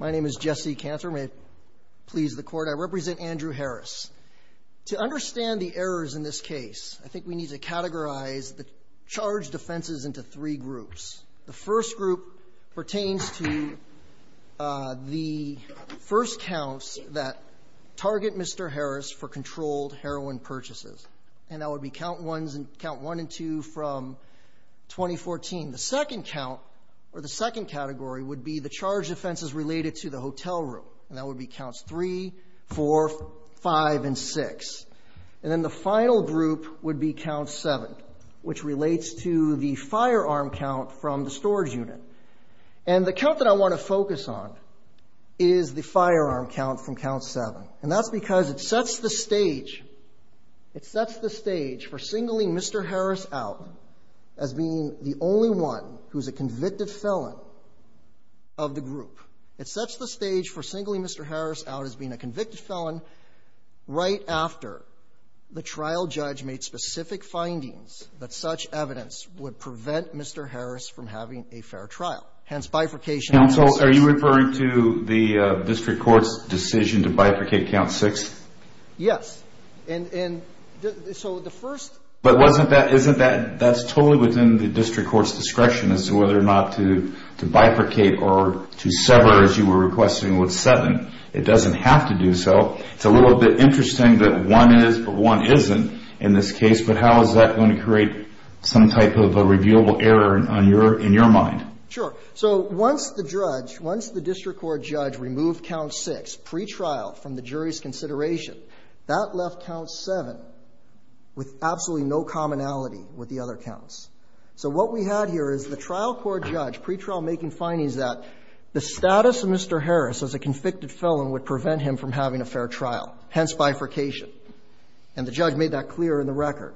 My name is Jesse Cantor. May it please the court, I represent Andrew Harris. To understand the errors in this case, I think we need to categorize the charge defenses into three groups. The first group pertains to the first counts that target Mr. Harris for controlled heroin purchases and that would be count ones and count one and two from 2014. The second count or the second category would be the charge defenses related to the hotel room and that would be counts three, four, five, and six. And then the final group would be count seven, which relates to the firearm count from the storage unit. And the count that I want to focus on is the firearm count from count seven and that's because it sets the stage, it sets the stage for singling Mr. Harris out as being the only one who's a convicted felon of the group. It sets the stage for singling Mr. Harris out as being a convicted felon right after the trial judge made specific findings that such evidence would prevent Mr. Harris from having a fair trial, hence bifurcation. Alito Are you referring to the district court's decision to bifurcate count six? Cantor Yes. And so the first Alito But wasn't that, isn't that, that's totally within the district court's discretion as to whether or not to, to bifurcate or to sever as you were requesting with seven. It doesn't have to do so. It's a little bit interesting that one is, but one isn't in this case, but how is that going to create some type of a reviewable error on your, in your mind? Cantor Sure. So once the judge, once the district court judge removed count six pretrial from the jury's consideration, that left count seven with absolutely no commonality with the other counts. So what we had here is the trial court judge pretrial making findings that the status of Mr. Harris as a convicted felon would prevent him from having a fair trial, hence bifurcation. And the judge made that clear in the record.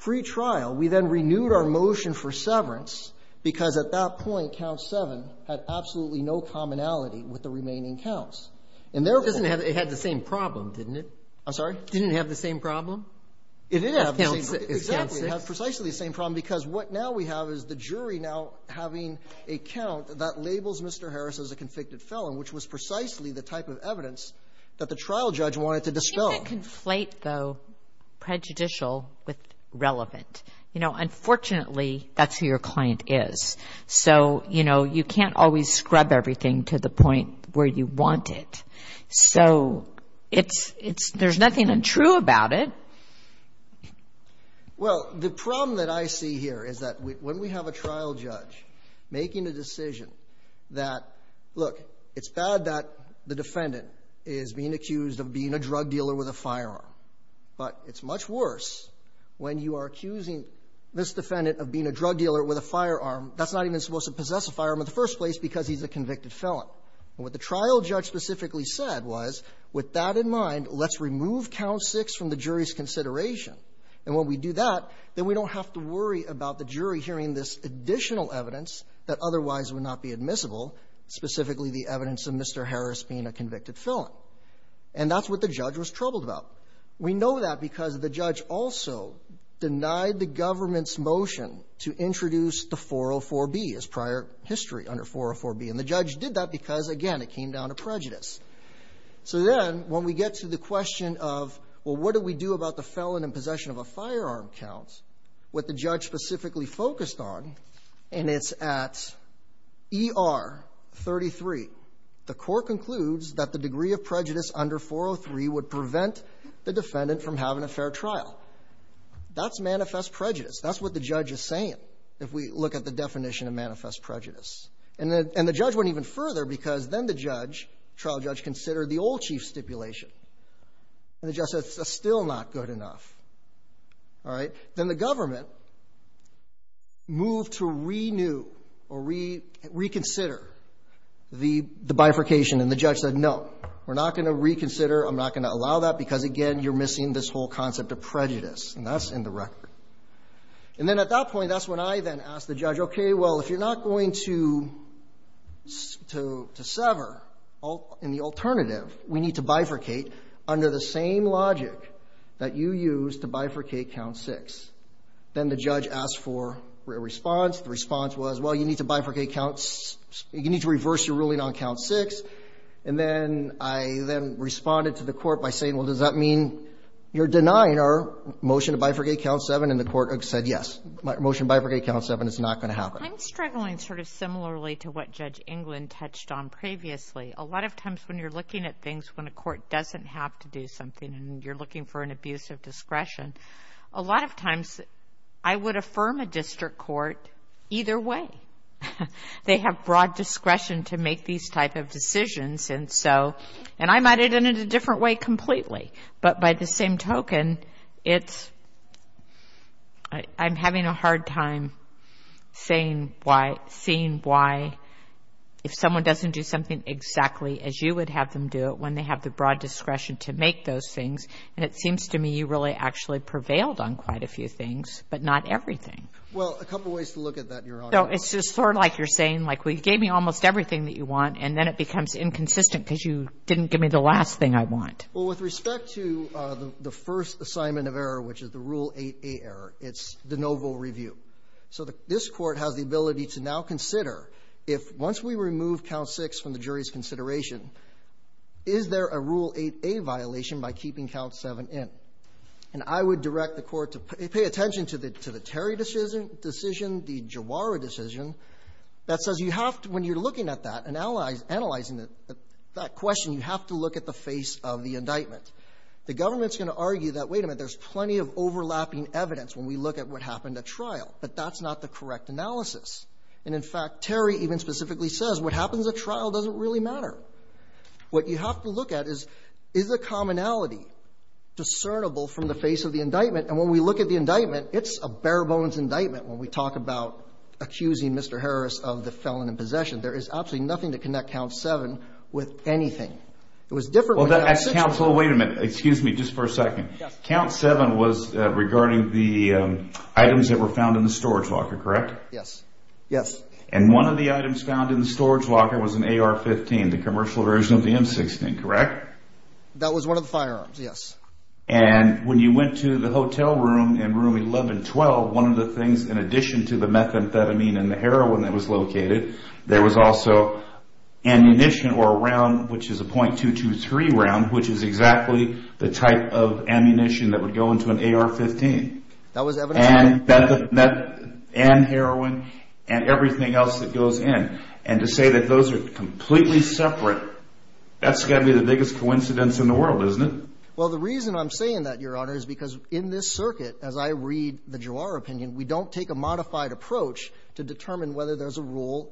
Pretrial, we then renewed our motion for severance because at that point, count seven had absolutely no commonality with the remaining counts. And therefore the court had the same problem, didn't it? Cantor I'm sorry? Breyer Didn't it have the same problem? Cantor It did have the same problem. Breyer Is count six. Cantor It did have precisely the same problem, because what now we have is the jury now having a count that labels Mr. Harris as a convicted felon, which was precisely the type of evidence that the trial judge wanted to dispel. Kagan You can't conflate, though, prejudicial with relevant. You know, unfortunately, that's who your client is. So, you know, you can't always scrub everything to the point where you want it. So it's, it's, there's nothing untrue about it. Cantor Well, the problem that I see here is that when we have a trial judge making a decision that, look, it's bad that the defendant is being accused of being a drug dealer with a firearm, but it's much worse when you are accusing this defendant of being a drug dealer with a firearm that's not even supposed to possess a firearm in the first place because he's a convicted felon. And what the trial judge specifically said was, with that in mind, let's remove count 6 from the jury's consideration. And when we do that, then we don't have to worry about the jury hearing this additional evidence that otherwise would not be admissible, specifically the evidence of Mr. Harris being a convicted felon. And that's what the judge was troubled about. We know that because the judge also denied the government's motion to introduce the 404b as prior history under 404b. And the judge did that because, again, it came down to prejudice. So then, when we get to the question of, well, what do we do about the felon in possession of a firearm count, what the judge specifically focused on, and it's at ER 33, the Court concludes that the degree of prejudice under 403 would prevent the defendant from having a fair trial. That's manifest prejudice. That's what the judge is saying, if we look at the definition of manifest prejudice. And the judge went even further because then the judge, trial judge, considered the old chief stipulation. And the judge said, it's still not good enough. All right? Then the government moved to renew or reconsider the bifurcation. And the judge said, no, we're not going to reconsider. I'm not going to allow that because, again, you're missing this whole concept of prejudice. And that's in the record. And then, at that point, that's when I then asked the judge, okay, well, if you're not going to sever in the alternative, we need to bifurcate under the same logic that you used to bifurcate count 6. Then the judge asked for a response. The response was, well, you need to bifurcate count – you need to reverse your ruling on count 6. And then I then responded to the Court by saying, well, does that mean you're denying our motion to bifurcate count 7? And the Court said, yes, motion to bifurcate count 7 is not going to happen. I'm struggling sort of similarly to what Judge England touched on previously. A lot of times when you're looking at things when a court doesn't have to do something and you're looking for an abuse of discretion, a lot of times I would affirm a district court either way. They have broad discretion to make these type of decisions. And I'm at it in a different way completely. But by the same token, it's – I'm having a hard time saying why – seeing why if someone doesn't do something exactly as you would have them do it when they have the broad discretion to make those things. And it seems to me you really actually prevailed on quite a few things, but not everything. Well, a couple of ways to look at that, Your Honor. So it's just sort of like you're saying, like, you gave me almost everything that you want, and then it becomes inconsistent because you didn't give me the last thing I want. Well, with respect to the first assignment of error, which is the Rule 8a error, it's de novo review. So this Court has the ability to now consider if, once we remove Count 6 from the jury's consideration, is there a Rule 8a violation by keeping Count 7 in. And I would direct the Court to pay attention to the – to the Terry decision – decision, the Jawara decision that says you have to – when you're looking at that and analyzing it, that question, you have to look at the face of the indictment. The government's going to argue that, wait a minute, there's plenty of overlapping evidence when we look at what happened at trial. But that's not the correct analysis. And, in fact, Terry even specifically says what happens at trial doesn't really matter. What you have to look at is, is the commonality discernible from the face of the indictment? And when we look at the indictment, it's a bare-bones indictment when we talk about accusing Mr. Harris of the felon in possession. There is absolutely nothing to connect Count 7 with anything. It was different Well, then, counsel, wait a minute. Excuse me just for a second. Count 7 was regarding the items that were found in the storage locker, correct? Yes. Yes. And one of the items found in the storage locker was an AR-15, the commercial version of the M16, correct? That was one of the firearms, yes. And when you went to the hotel room in Room 1112, one of the things, in addition to the methamphetamine and the heroin that was located, there was also ammunition or a round, which is a .223 round, which is exactly the type of ammunition that would go into an AR-15. That was evidence of that. And heroin and everything else that goes in. And to say that those are completely separate, that's got to be the biggest coincidence in the world, isn't it? Well, the reason I'm saying that, Your Honor, is because in this circuit, as I read the Juar opinion, we don't take a modified approach to determine whether there's a And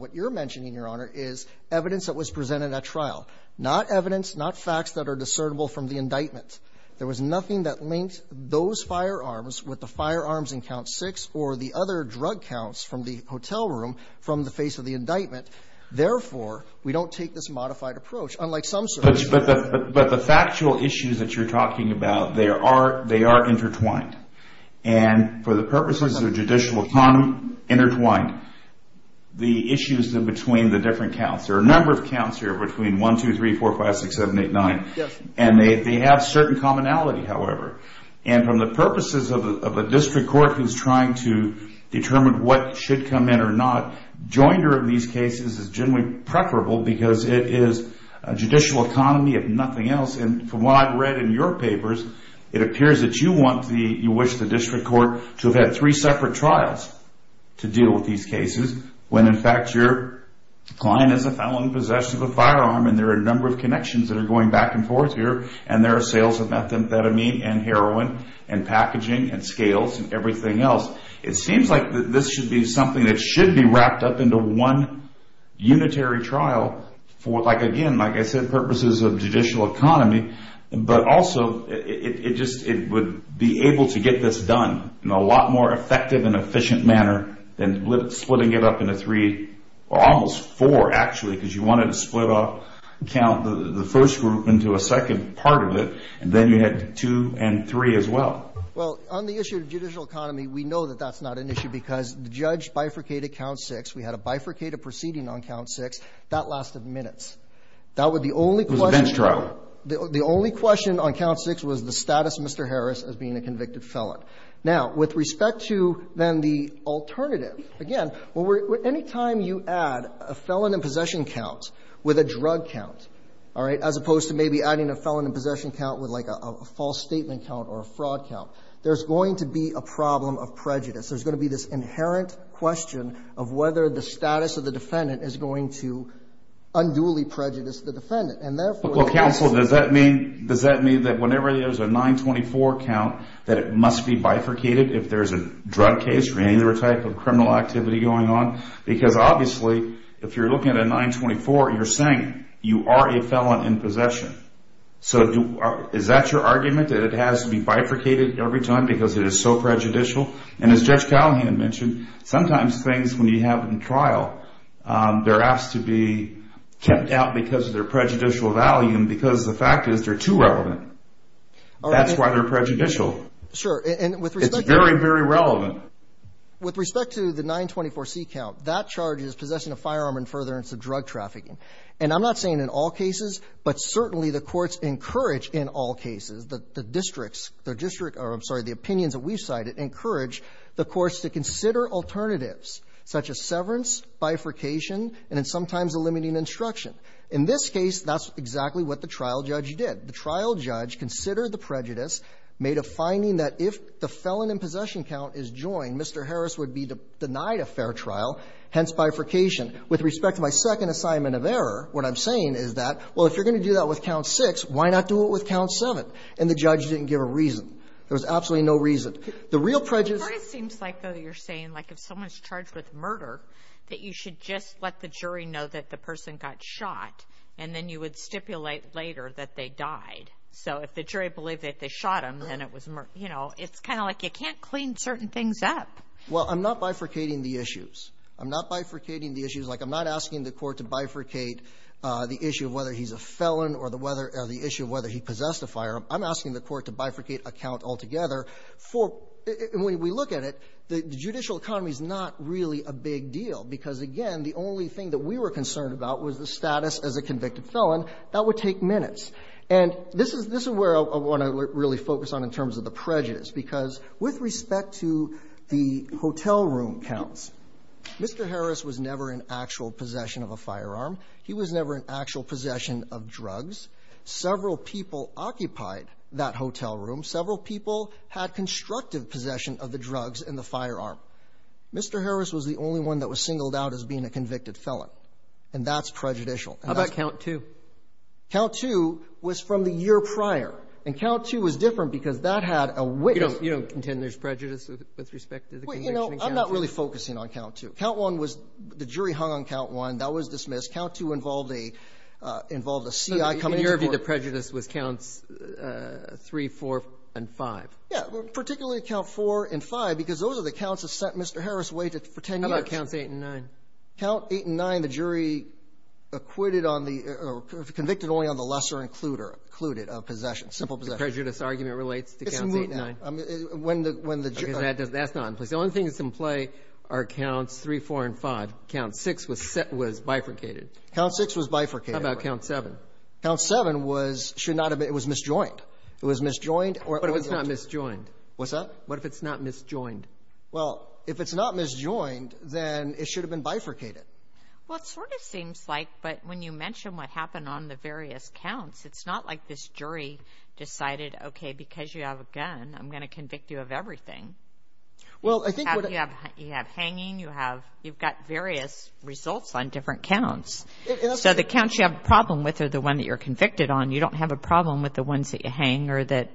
what you're mentioning, Your Honor, is evidence that was presented at trial. Not evidence, not facts that are discernible from the indictment. There was nothing that linked those firearms with the firearms in Count 6 or the other drug counts from the hotel room from the face of the indictment. Therefore, we don't take this modified approach, unlike some circuits. But the factual issues that you're talking about, they are intertwined. And for the purposes of judicial economy, intertwined. The issues in between the different counts. There are a number of counts here between 1, 2, 3, 4, 5, 6, 7, 8, 9. And they have certain commonality, however. And from the purposes of a district court who's trying to determine what should come in or not, joinder in these cases is generally preferable because it is a judicial economy, if nothing else. And from what I've read in your papers, it appears that you wish the district court to have had three separate trials to deal with these cases. When, in fact, your client is a felon in possession of a firearm. And there are a number of connections that are going back and forth here. And there are sales of methamphetamine and heroin and packaging and scales and everything else. It seems like this should be something that should be wrapped up into one unitary trial for, like, again, like I said, purposes of judicial economy. But also, it just would be able to get this done in a lot more effective and efficient manner than splitting it up into three or almost four, actually, because you wanted to split off the first group into a second part of it. And then you had two and three as well. Well, on the issue of judicial economy, we know that that's not an issue because the judge bifurcated count six. We had a bifurcated proceeding on count six. That lasted minutes. That was the only question. It was a bench trial. The only question on count six was the status of Mr. Harris as being a convicted felon. Now, with respect to, then, the alternative, again, anytime you add a felon in possession count with a drug count, all right, as opposed to maybe adding a felon in possession count with, like, a false statement count or a fraud count, there's going to be a problem of prejudice. There's going to be this inherent question of whether the status of the defendant is going to unduly prejudice the defendant. And therefore, yes. Well, counsel, does that mean, does that mean that whenever there's a 924 count, that it must be bifurcated if there's a drug case or any other type of criminal activity going on? Because obviously, if you're looking at a 924, you're saying you are a felon in possession. So is that your argument, that it has to be bifurcated every time because it is so prejudicial? And as Judge Calhoun mentioned, sometimes things, when you have them in trial, they're asked to be kept out because of their prejudicial value and because the fact is they're too relevant. That's why they're prejudicial. Sure. And with respect to... It's very, very relevant. With respect to the 924C count, that charge is possession of firearm and furtherance of drug trafficking. And I'm not saying in all cases, but certainly the courts encourage in all cases the districts, the district or, I'm sorry, the opinions that we've cited encourage the courts to consider alternatives such as severance, bifurcation, and then sometimes a limiting instruction. In this case, that's exactly what the trial judge did. The trial judge considered the prejudice, made a finding that if the felon in possession count is joined, Mr. Harris would be denied a fair trial, hence bifurcation. With respect to my second assignment of error, what I'm saying is that, well, if you're going to do that with count 6, why not do it with count 7? And the judge didn't give a reason. There was absolutely no reason. The real prejudice... It seems like, though, you're saying, like, if someone's charged with murder, that you should just let the jury know that the person got shot, and then you would stipulate later that they died. So if the jury believed that they shot him, then it was, you know, it's kind of like you can't clean certain things up. Well, I'm not bifurcating the issues. I'm not bifurcating the issues. Like, I'm not asking the court to bifurcate the issue of whether he's a felon or the issue of whether he possessed a firearm. I'm asking the court to bifurcate a count altogether for the judicial economy is not really a big deal, because, again, the only thing that we were concerned about was the status as a convicted felon. That would take minutes. And this is where I want to really focus on in terms of the prejudice, because with respect to the hotel room counts, Mr. Harris was never in actual possession of a firearm. He was never in actual possession of drugs. Several people occupied that hotel room. Several people had constructive possession of the drugs and the firearm. Mr. Harris was the only one that was singled out as being a convicted felon. And that's the question. How about count two? Count two was from the year prior. And count two was different because that had a witness. You don't contend there's prejudice with respect to the conviction in count two? Well, you know, I'm not really focusing on count two. Count one was the jury hung on count one. That was dismissed. Count two involved a CI coming into court. So in your view, the prejudice was counts three, four, and five? Yeah. Particularly count four and five, because those are the counts that sent Mr. Harris away for ten years. How about counts eight and nine? Count eight and nine, the jury acquitted on the or convicted only on the lesser included of possession, simple possession. The prejudice argument relates to counts eight and nine? It's not. When the jury was hung on that. That's not in place. The only thing that's in play are counts three, four, and five. Count six was bifurcated. Count six was bifurcated. How about count seven? Count seven was — should not have been — it was misjoined. It was misjoined or it wasn't. What if it's not misjoined? What's that? What if it's not misjoined? Well, if it's not misjoined, then it should have been bifurcated. Well, it sort of seems like, but when you mention what happened on the various counts, it's not like this jury decided, okay, because you have a gun, I'm going to convict you of everything. Well, I think what it — You have — you have hanging. You have — you've got various results on different counts. So the counts you have a problem with are the ones that you're convicted on. You don't have a problem with the ones that you hang or that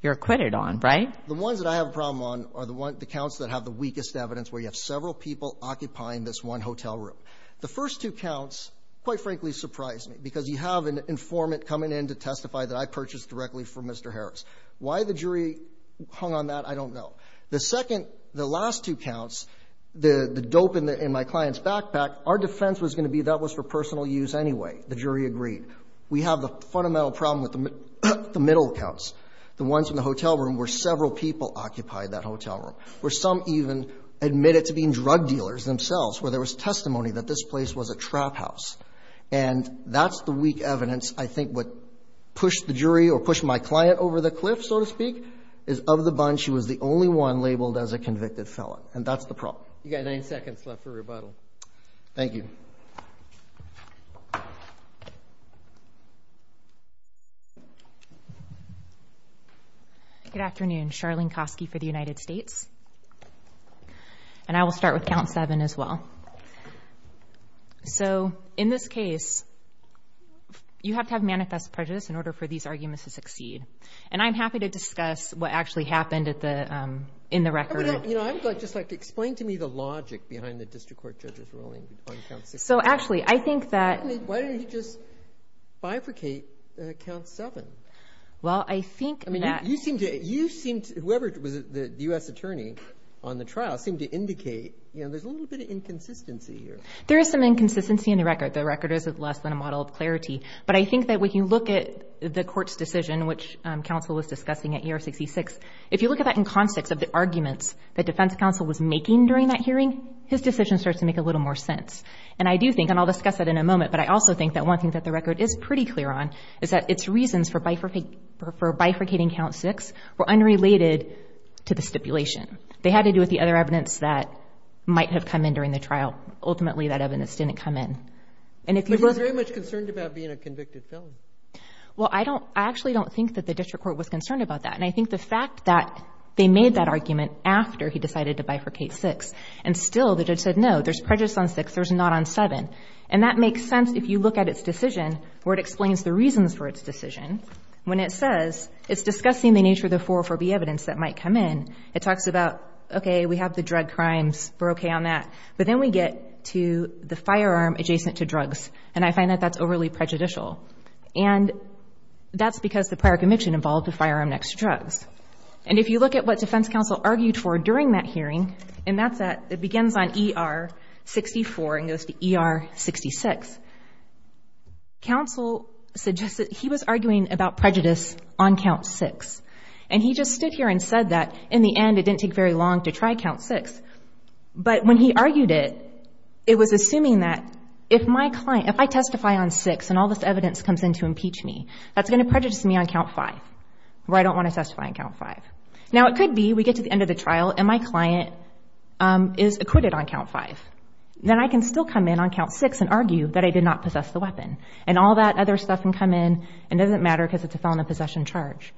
you're acquitted on, right? The ones that I have a problem on are the ones — the counts that have the weakest evidence, where you have several people occupying this one hotel room. The first two counts, quite frankly, surprised me, because you have an informant coming in to testify that I purchased directly from Mr. Harris. Why the jury hung on that, I don't know. The second — the last two counts, the dope in my client's backpack, our defense was going to be that was for personal use anyway. The jury agreed. We have the fundamental problem with the middle counts, the ones in the hotel room where several people occupied that hotel room, where some even admitted to being drug dealers themselves, where there was testimony that this place was a trap house. And that's the weak evidence, I think, what pushed the jury or pushed my client over the cliff, so to speak, is of the bunch who was the only one labeled as a convicted felon. And that's the problem. You got nine seconds left for rebuttal. Thank you. Good afternoon. Charlene Kosky for the United States. And I will start with count seven as well. So, in this case, you have to have manifest prejudice in order for these arguments to succeed. And I'm happy to discuss what actually happened at the — in the record. You know, I would just like to — explain to me the logic behind the district court judge's ruling on count six. So, actually, I think that — Why don't you just bifurcate count seven? Well, I think that — I mean, you seem to — you seem to — whoever was the U.S. attorney on the trial seemed to indicate, you know, there's a little bit of inconsistency here. There is some inconsistency in the record. The record is less than a model of clarity. But I think that when you look at the court's decision, which counsel was discussing at year 66, if you look at that in context of the arguments that defense counsel was making during that hearing, his decision starts to make a little more sense. And I do think — and I'll discuss that in a moment. But I also think that one thing that the record is pretty clear on is that its reasons for bifurcating count six were unrelated to the stipulation. They had to do with the other evidence that might have come in during the trial. Ultimately, that evidence didn't come in. And if you look — But he was very much concerned about being a convicted felon. Well, I don't — I actually don't think that the district court was concerned about that. And I think the fact that they made that argument after he decided to bifurcate six, and still the judge said, no, there's prejudice on six, there's not on seven. And that makes sense if you look at its decision, where it explains the reasons for its decision. When it says — it's discussing the nature of the 404B evidence that might come in, it talks about, okay, we have the drug crimes, we're okay on that. But then we get to the firearm adjacent to drugs. And I find that that's overly prejudicial. And that's because the prior conviction involved the firearm next to drugs. And if you look at what defense counsel argued for during that hearing — and that's at — it begins on ER-64 and goes to ER-66. Counsel suggested — he was arguing about prejudice on count six. And he just stood here and said that, in the end, it didn't take very long to try count six. But when he argued it, it was assuming that if my client — if I testify on six and all this evidence comes in to impeach me, that's going to prejudice me on count five, where I don't want to testify on count five. Now, it could be we get to the end of the trial and my client is acquitted on count five. Then I can still come in on count six and argue that I did not possess the weapon. And all that other stuff can come in, and it doesn't matter because it's a felon of possession charge.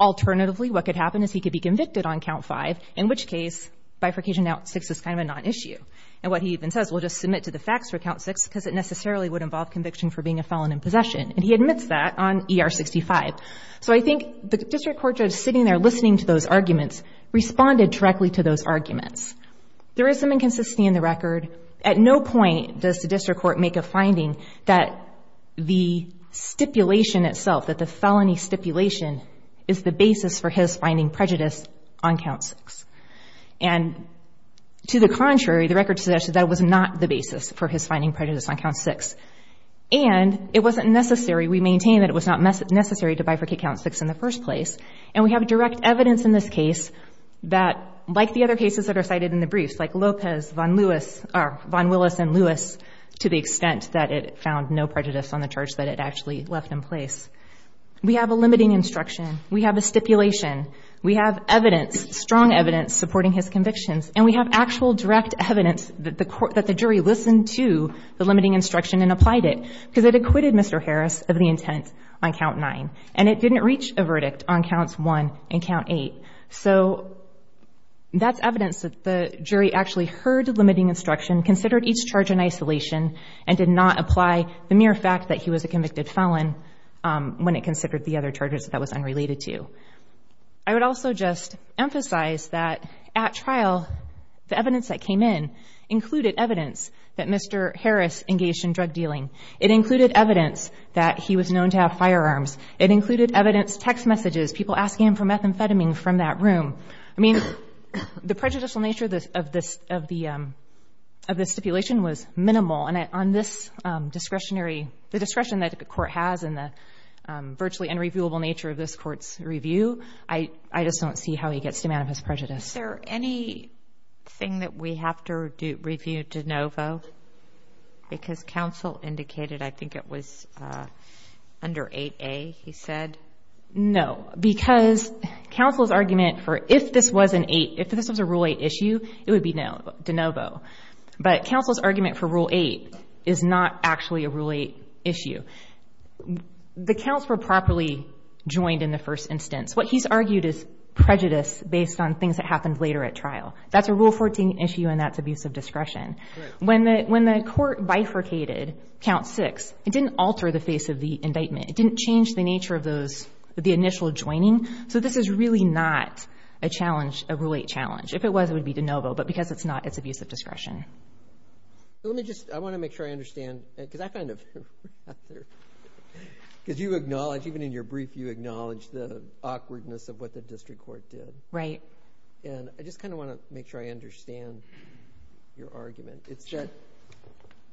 Alternatively, what could happen is he could be convicted on count five, in which case bifurcation out six is kind of a non-issue. And what he even says, we'll just submit to the facts for count six because it necessarily would involve conviction for being a felon in possession. And he admits that on ER-65. So I think the district court judge sitting there listening to those arguments responded directly to those arguments. There is some inconsistency in the record. At no point does the district court make a finding that the stipulation itself, that the felony stipulation is the basis for his finding prejudice on count six. And to the contrary, the record suggests that that was not the basis for his finding prejudice on count six. And it wasn't necessary, we maintain that it was not necessary to bifurcate count six in the first place. And we have direct evidence in this case that, like the other cases that are cited in the briefs, like Lopez, Von Willis and Lewis, to the extent that it found no We have a limiting instruction, we have a stipulation, we have evidence, strong evidence supporting his convictions, and we have actual direct evidence that the jury listened to the limiting instruction and applied it because it acquitted Mr. Harris of the intent on count nine. And it didn't reach a verdict on counts one and count eight. So that's evidence that the jury actually heard the limiting instruction, considered each charge in isolation, and did not apply the mere fact that he was a when it considered the other charges that was unrelated to. I would also just emphasize that at trial, the evidence that came in included evidence that Mr. Harris engaged in drug dealing. It included evidence that he was known to have firearms. It included evidence, text messages, people asking him for methamphetamine from that room. I mean, the prejudicial nature of this stipulation was minimal. And on this discretionary, the discretion that the court has in the virtually unreviewable nature of this court's review, I just don't see how he gets to manifest prejudice. Is there anything that we have to review de novo? Because counsel indicated I think it was under 8A, he said. No, because counsel's argument for if this was an eight, if this was a rule eight issue, it would be de novo. But counsel's argument for rule eight is not actually a rule eight issue. The counts were properly joined in the first instance. What he's argued is prejudice based on things that happened later at trial. That's a rule 14 issue and that's abusive discretion. When the court bifurcated count six, it didn't alter the face of the indictment. It didn't change the nature of those, the initial joining. So this is really not a challenge, a rule eight challenge. If it was, it would be de novo. But because it's not, it's abusive discretion. Let me just, I want to make sure I understand, because I kind of, because you acknowledge, even in your brief, you acknowledge the awkwardness of what the district court did. Right. And I just kind of want to make sure I understand your argument. It's that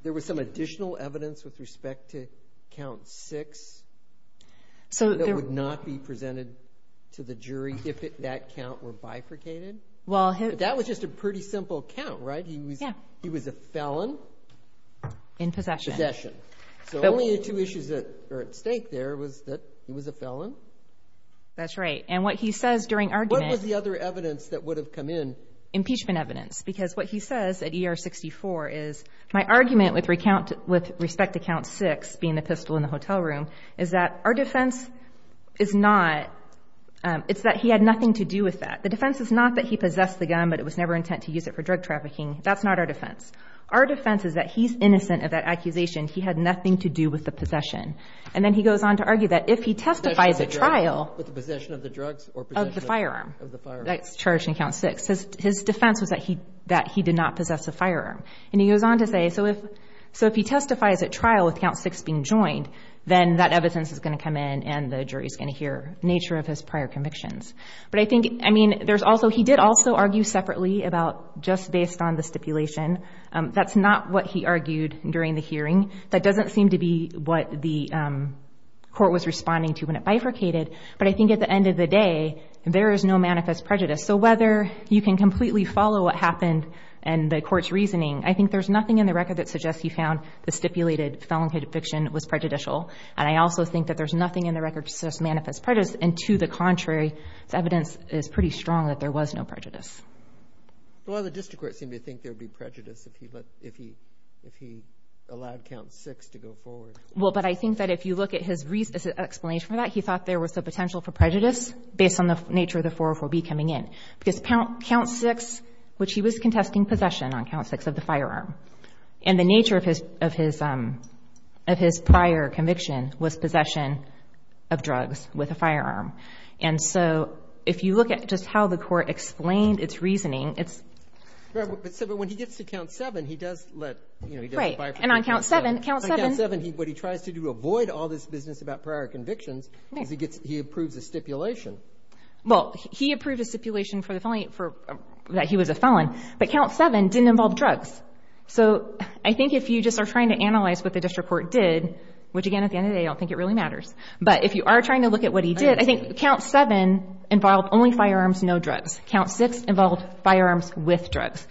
there was some additional evidence with respect to count six. So that would not be presented to the jury if that count were bifurcated? That was just a pretty simple count, right? He was a felon. In possession. Possession. So only the two issues that are at stake there was that he was a felon. That's right. And what he says during argument. What was the other evidence that would have come in? Impeachment evidence. Because what he says at ER 64 is, my argument with respect to count six, being the pistol in the hotel room, is that our defense is not, it's that he had nothing to do with that. The defense is not that he possessed the gun, but it was never intent to use it for drug trafficking. That's not our defense. Our defense is that he's innocent of that accusation. He had nothing to do with the possession. And then he goes on to argue that if he testifies at trial. With the possession of the drugs or possession of the firearm. That's charged in count six. His defense was that he did not possess a firearm. And he goes on to say, so if he testifies at trial with count six being joined, then that evidence is going to come in and the jury's going to hear nature of his prior convictions. But I think, I mean, there's also, he did also argue separately about just based on the stipulation. That's not what he argued during the hearing. That doesn't seem to be what the court was responding to when it bifurcated. But I think at the end of the day, there is no manifest prejudice. So whether you can completely follow what happened and the court's reasoning, I think there's nothing in the record that suggests he found the stipulated felon conviction was prejudicial. And I also think that there's nothing in the record to suggest manifest prejudice. And to the contrary, the evidence is pretty strong that there was no prejudice. Well, the district court seemed to think there would be prejudice if he allowed count six to go forward. Well, but I think that if you look at his explanation for that, he thought there was the potential for prejudice based on the nature of the 404B coming in. Because count six, which he was contesting possession on count six of the firearm. And the nature of his prior conviction was possession of drugs with a firearm. And so, if you look at just how the court explained its reasoning, it's. Right, but so when he gets to count seven, he does let, he does bifurcate. Right, and on count seven, count seven. On count seven, what he tries to do to avoid all this business about prior convictions is he approves a stipulation. Well, he approved a stipulation for the felony that he was a felon. But count seven didn't involve drugs. So I think if you just are trying to analyze what the district court did, which again, at the end of the day, I don't think it really matters. But if you are trying to look at what he did, I think count seven involved only firearms, no drugs. Count six involved firearms with drugs.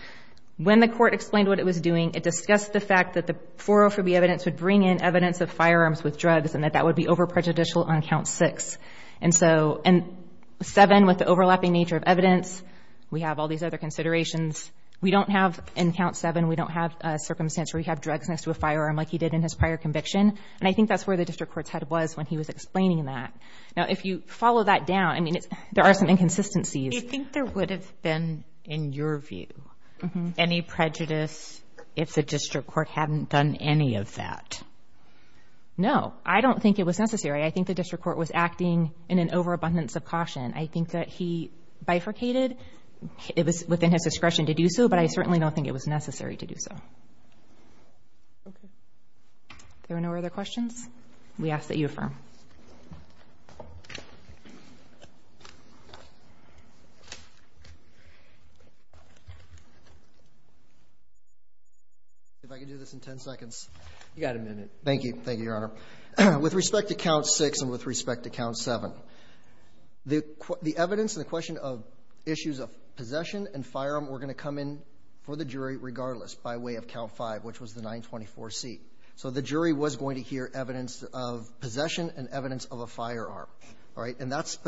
When the court explained what it was doing, it discussed the fact that the 404B evidence would bring in evidence of firearms with drugs and that that would be over prejudicial on count six. And so, and seven with the overlapping nature of evidence, we have all these other considerations. We don't have, in count seven, we don't have a circumstance where we have drugs next to a firearm like he did in his prior conviction. And I think that's where the district court's head was when he was explaining that. Now, if you follow that down, I mean, there are some inconsistencies. Do you think there would have been, in your view, any prejudice if the district court hadn't done any of that? No, I don't think it was necessary. I think the district court was acting in an overabundance of caution. I think that he bifurcated. It was within his discretion to do so, but I certainly don't think it was necessary to do so. Okay. There are no other questions? We ask that you affirm. If I could do this in ten seconds. You got a minute. Thank you. Thank you, Your Honor. With respect to count six and with respect to count seven, the evidence and the question of issues of possession and firearm were going to come in for the 924C. So the jury was going to hear evidence of possession and evidence of a firearm. All right? And that's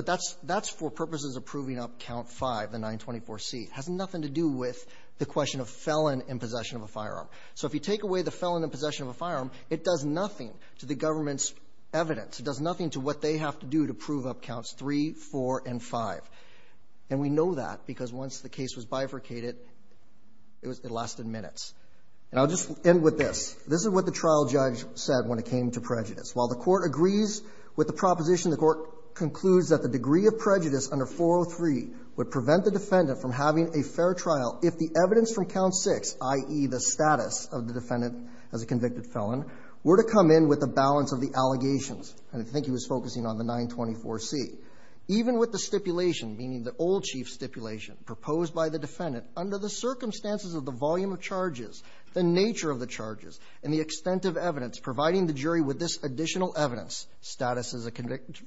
for purposes of proving up count five, the 924C. It has nothing to do with the question of felon in possession of a firearm. So if you take away the felon in possession of a firearm, it does nothing to the government's evidence. It does nothing to what they have to do to prove up counts three, four, and five. And we know that because once the case was bifurcated, it lasted minutes. And I'll just end with this. This is what the trial judge said when it came to prejudice. While the court agrees with the proposition, the court concludes that the degree of prejudice under 403 would prevent the defendant from having a fair trial if the evidence from count six, i.e., the status of the defendant as a convicted felon, were to come in with a balance of the allegations. And I think he was focusing on the 924C. Even with the stipulation, meaning the old chief stipulation proposed by the defendant, under the circumstances of the volume of charges, the nature of the charges, and the extent of evidence providing the jury with this additional evidence, status as a convicted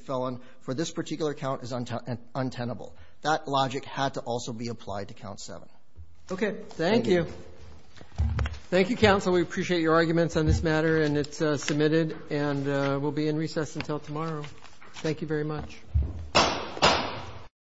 felon for this particular count is untenable. That logic had to also be applied to count seven. Okay. Thank you. Thank you, counsel. We appreciate your arguments on this matter, and it's submitted. And we'll be in recess until tomorrow. Thank you very much.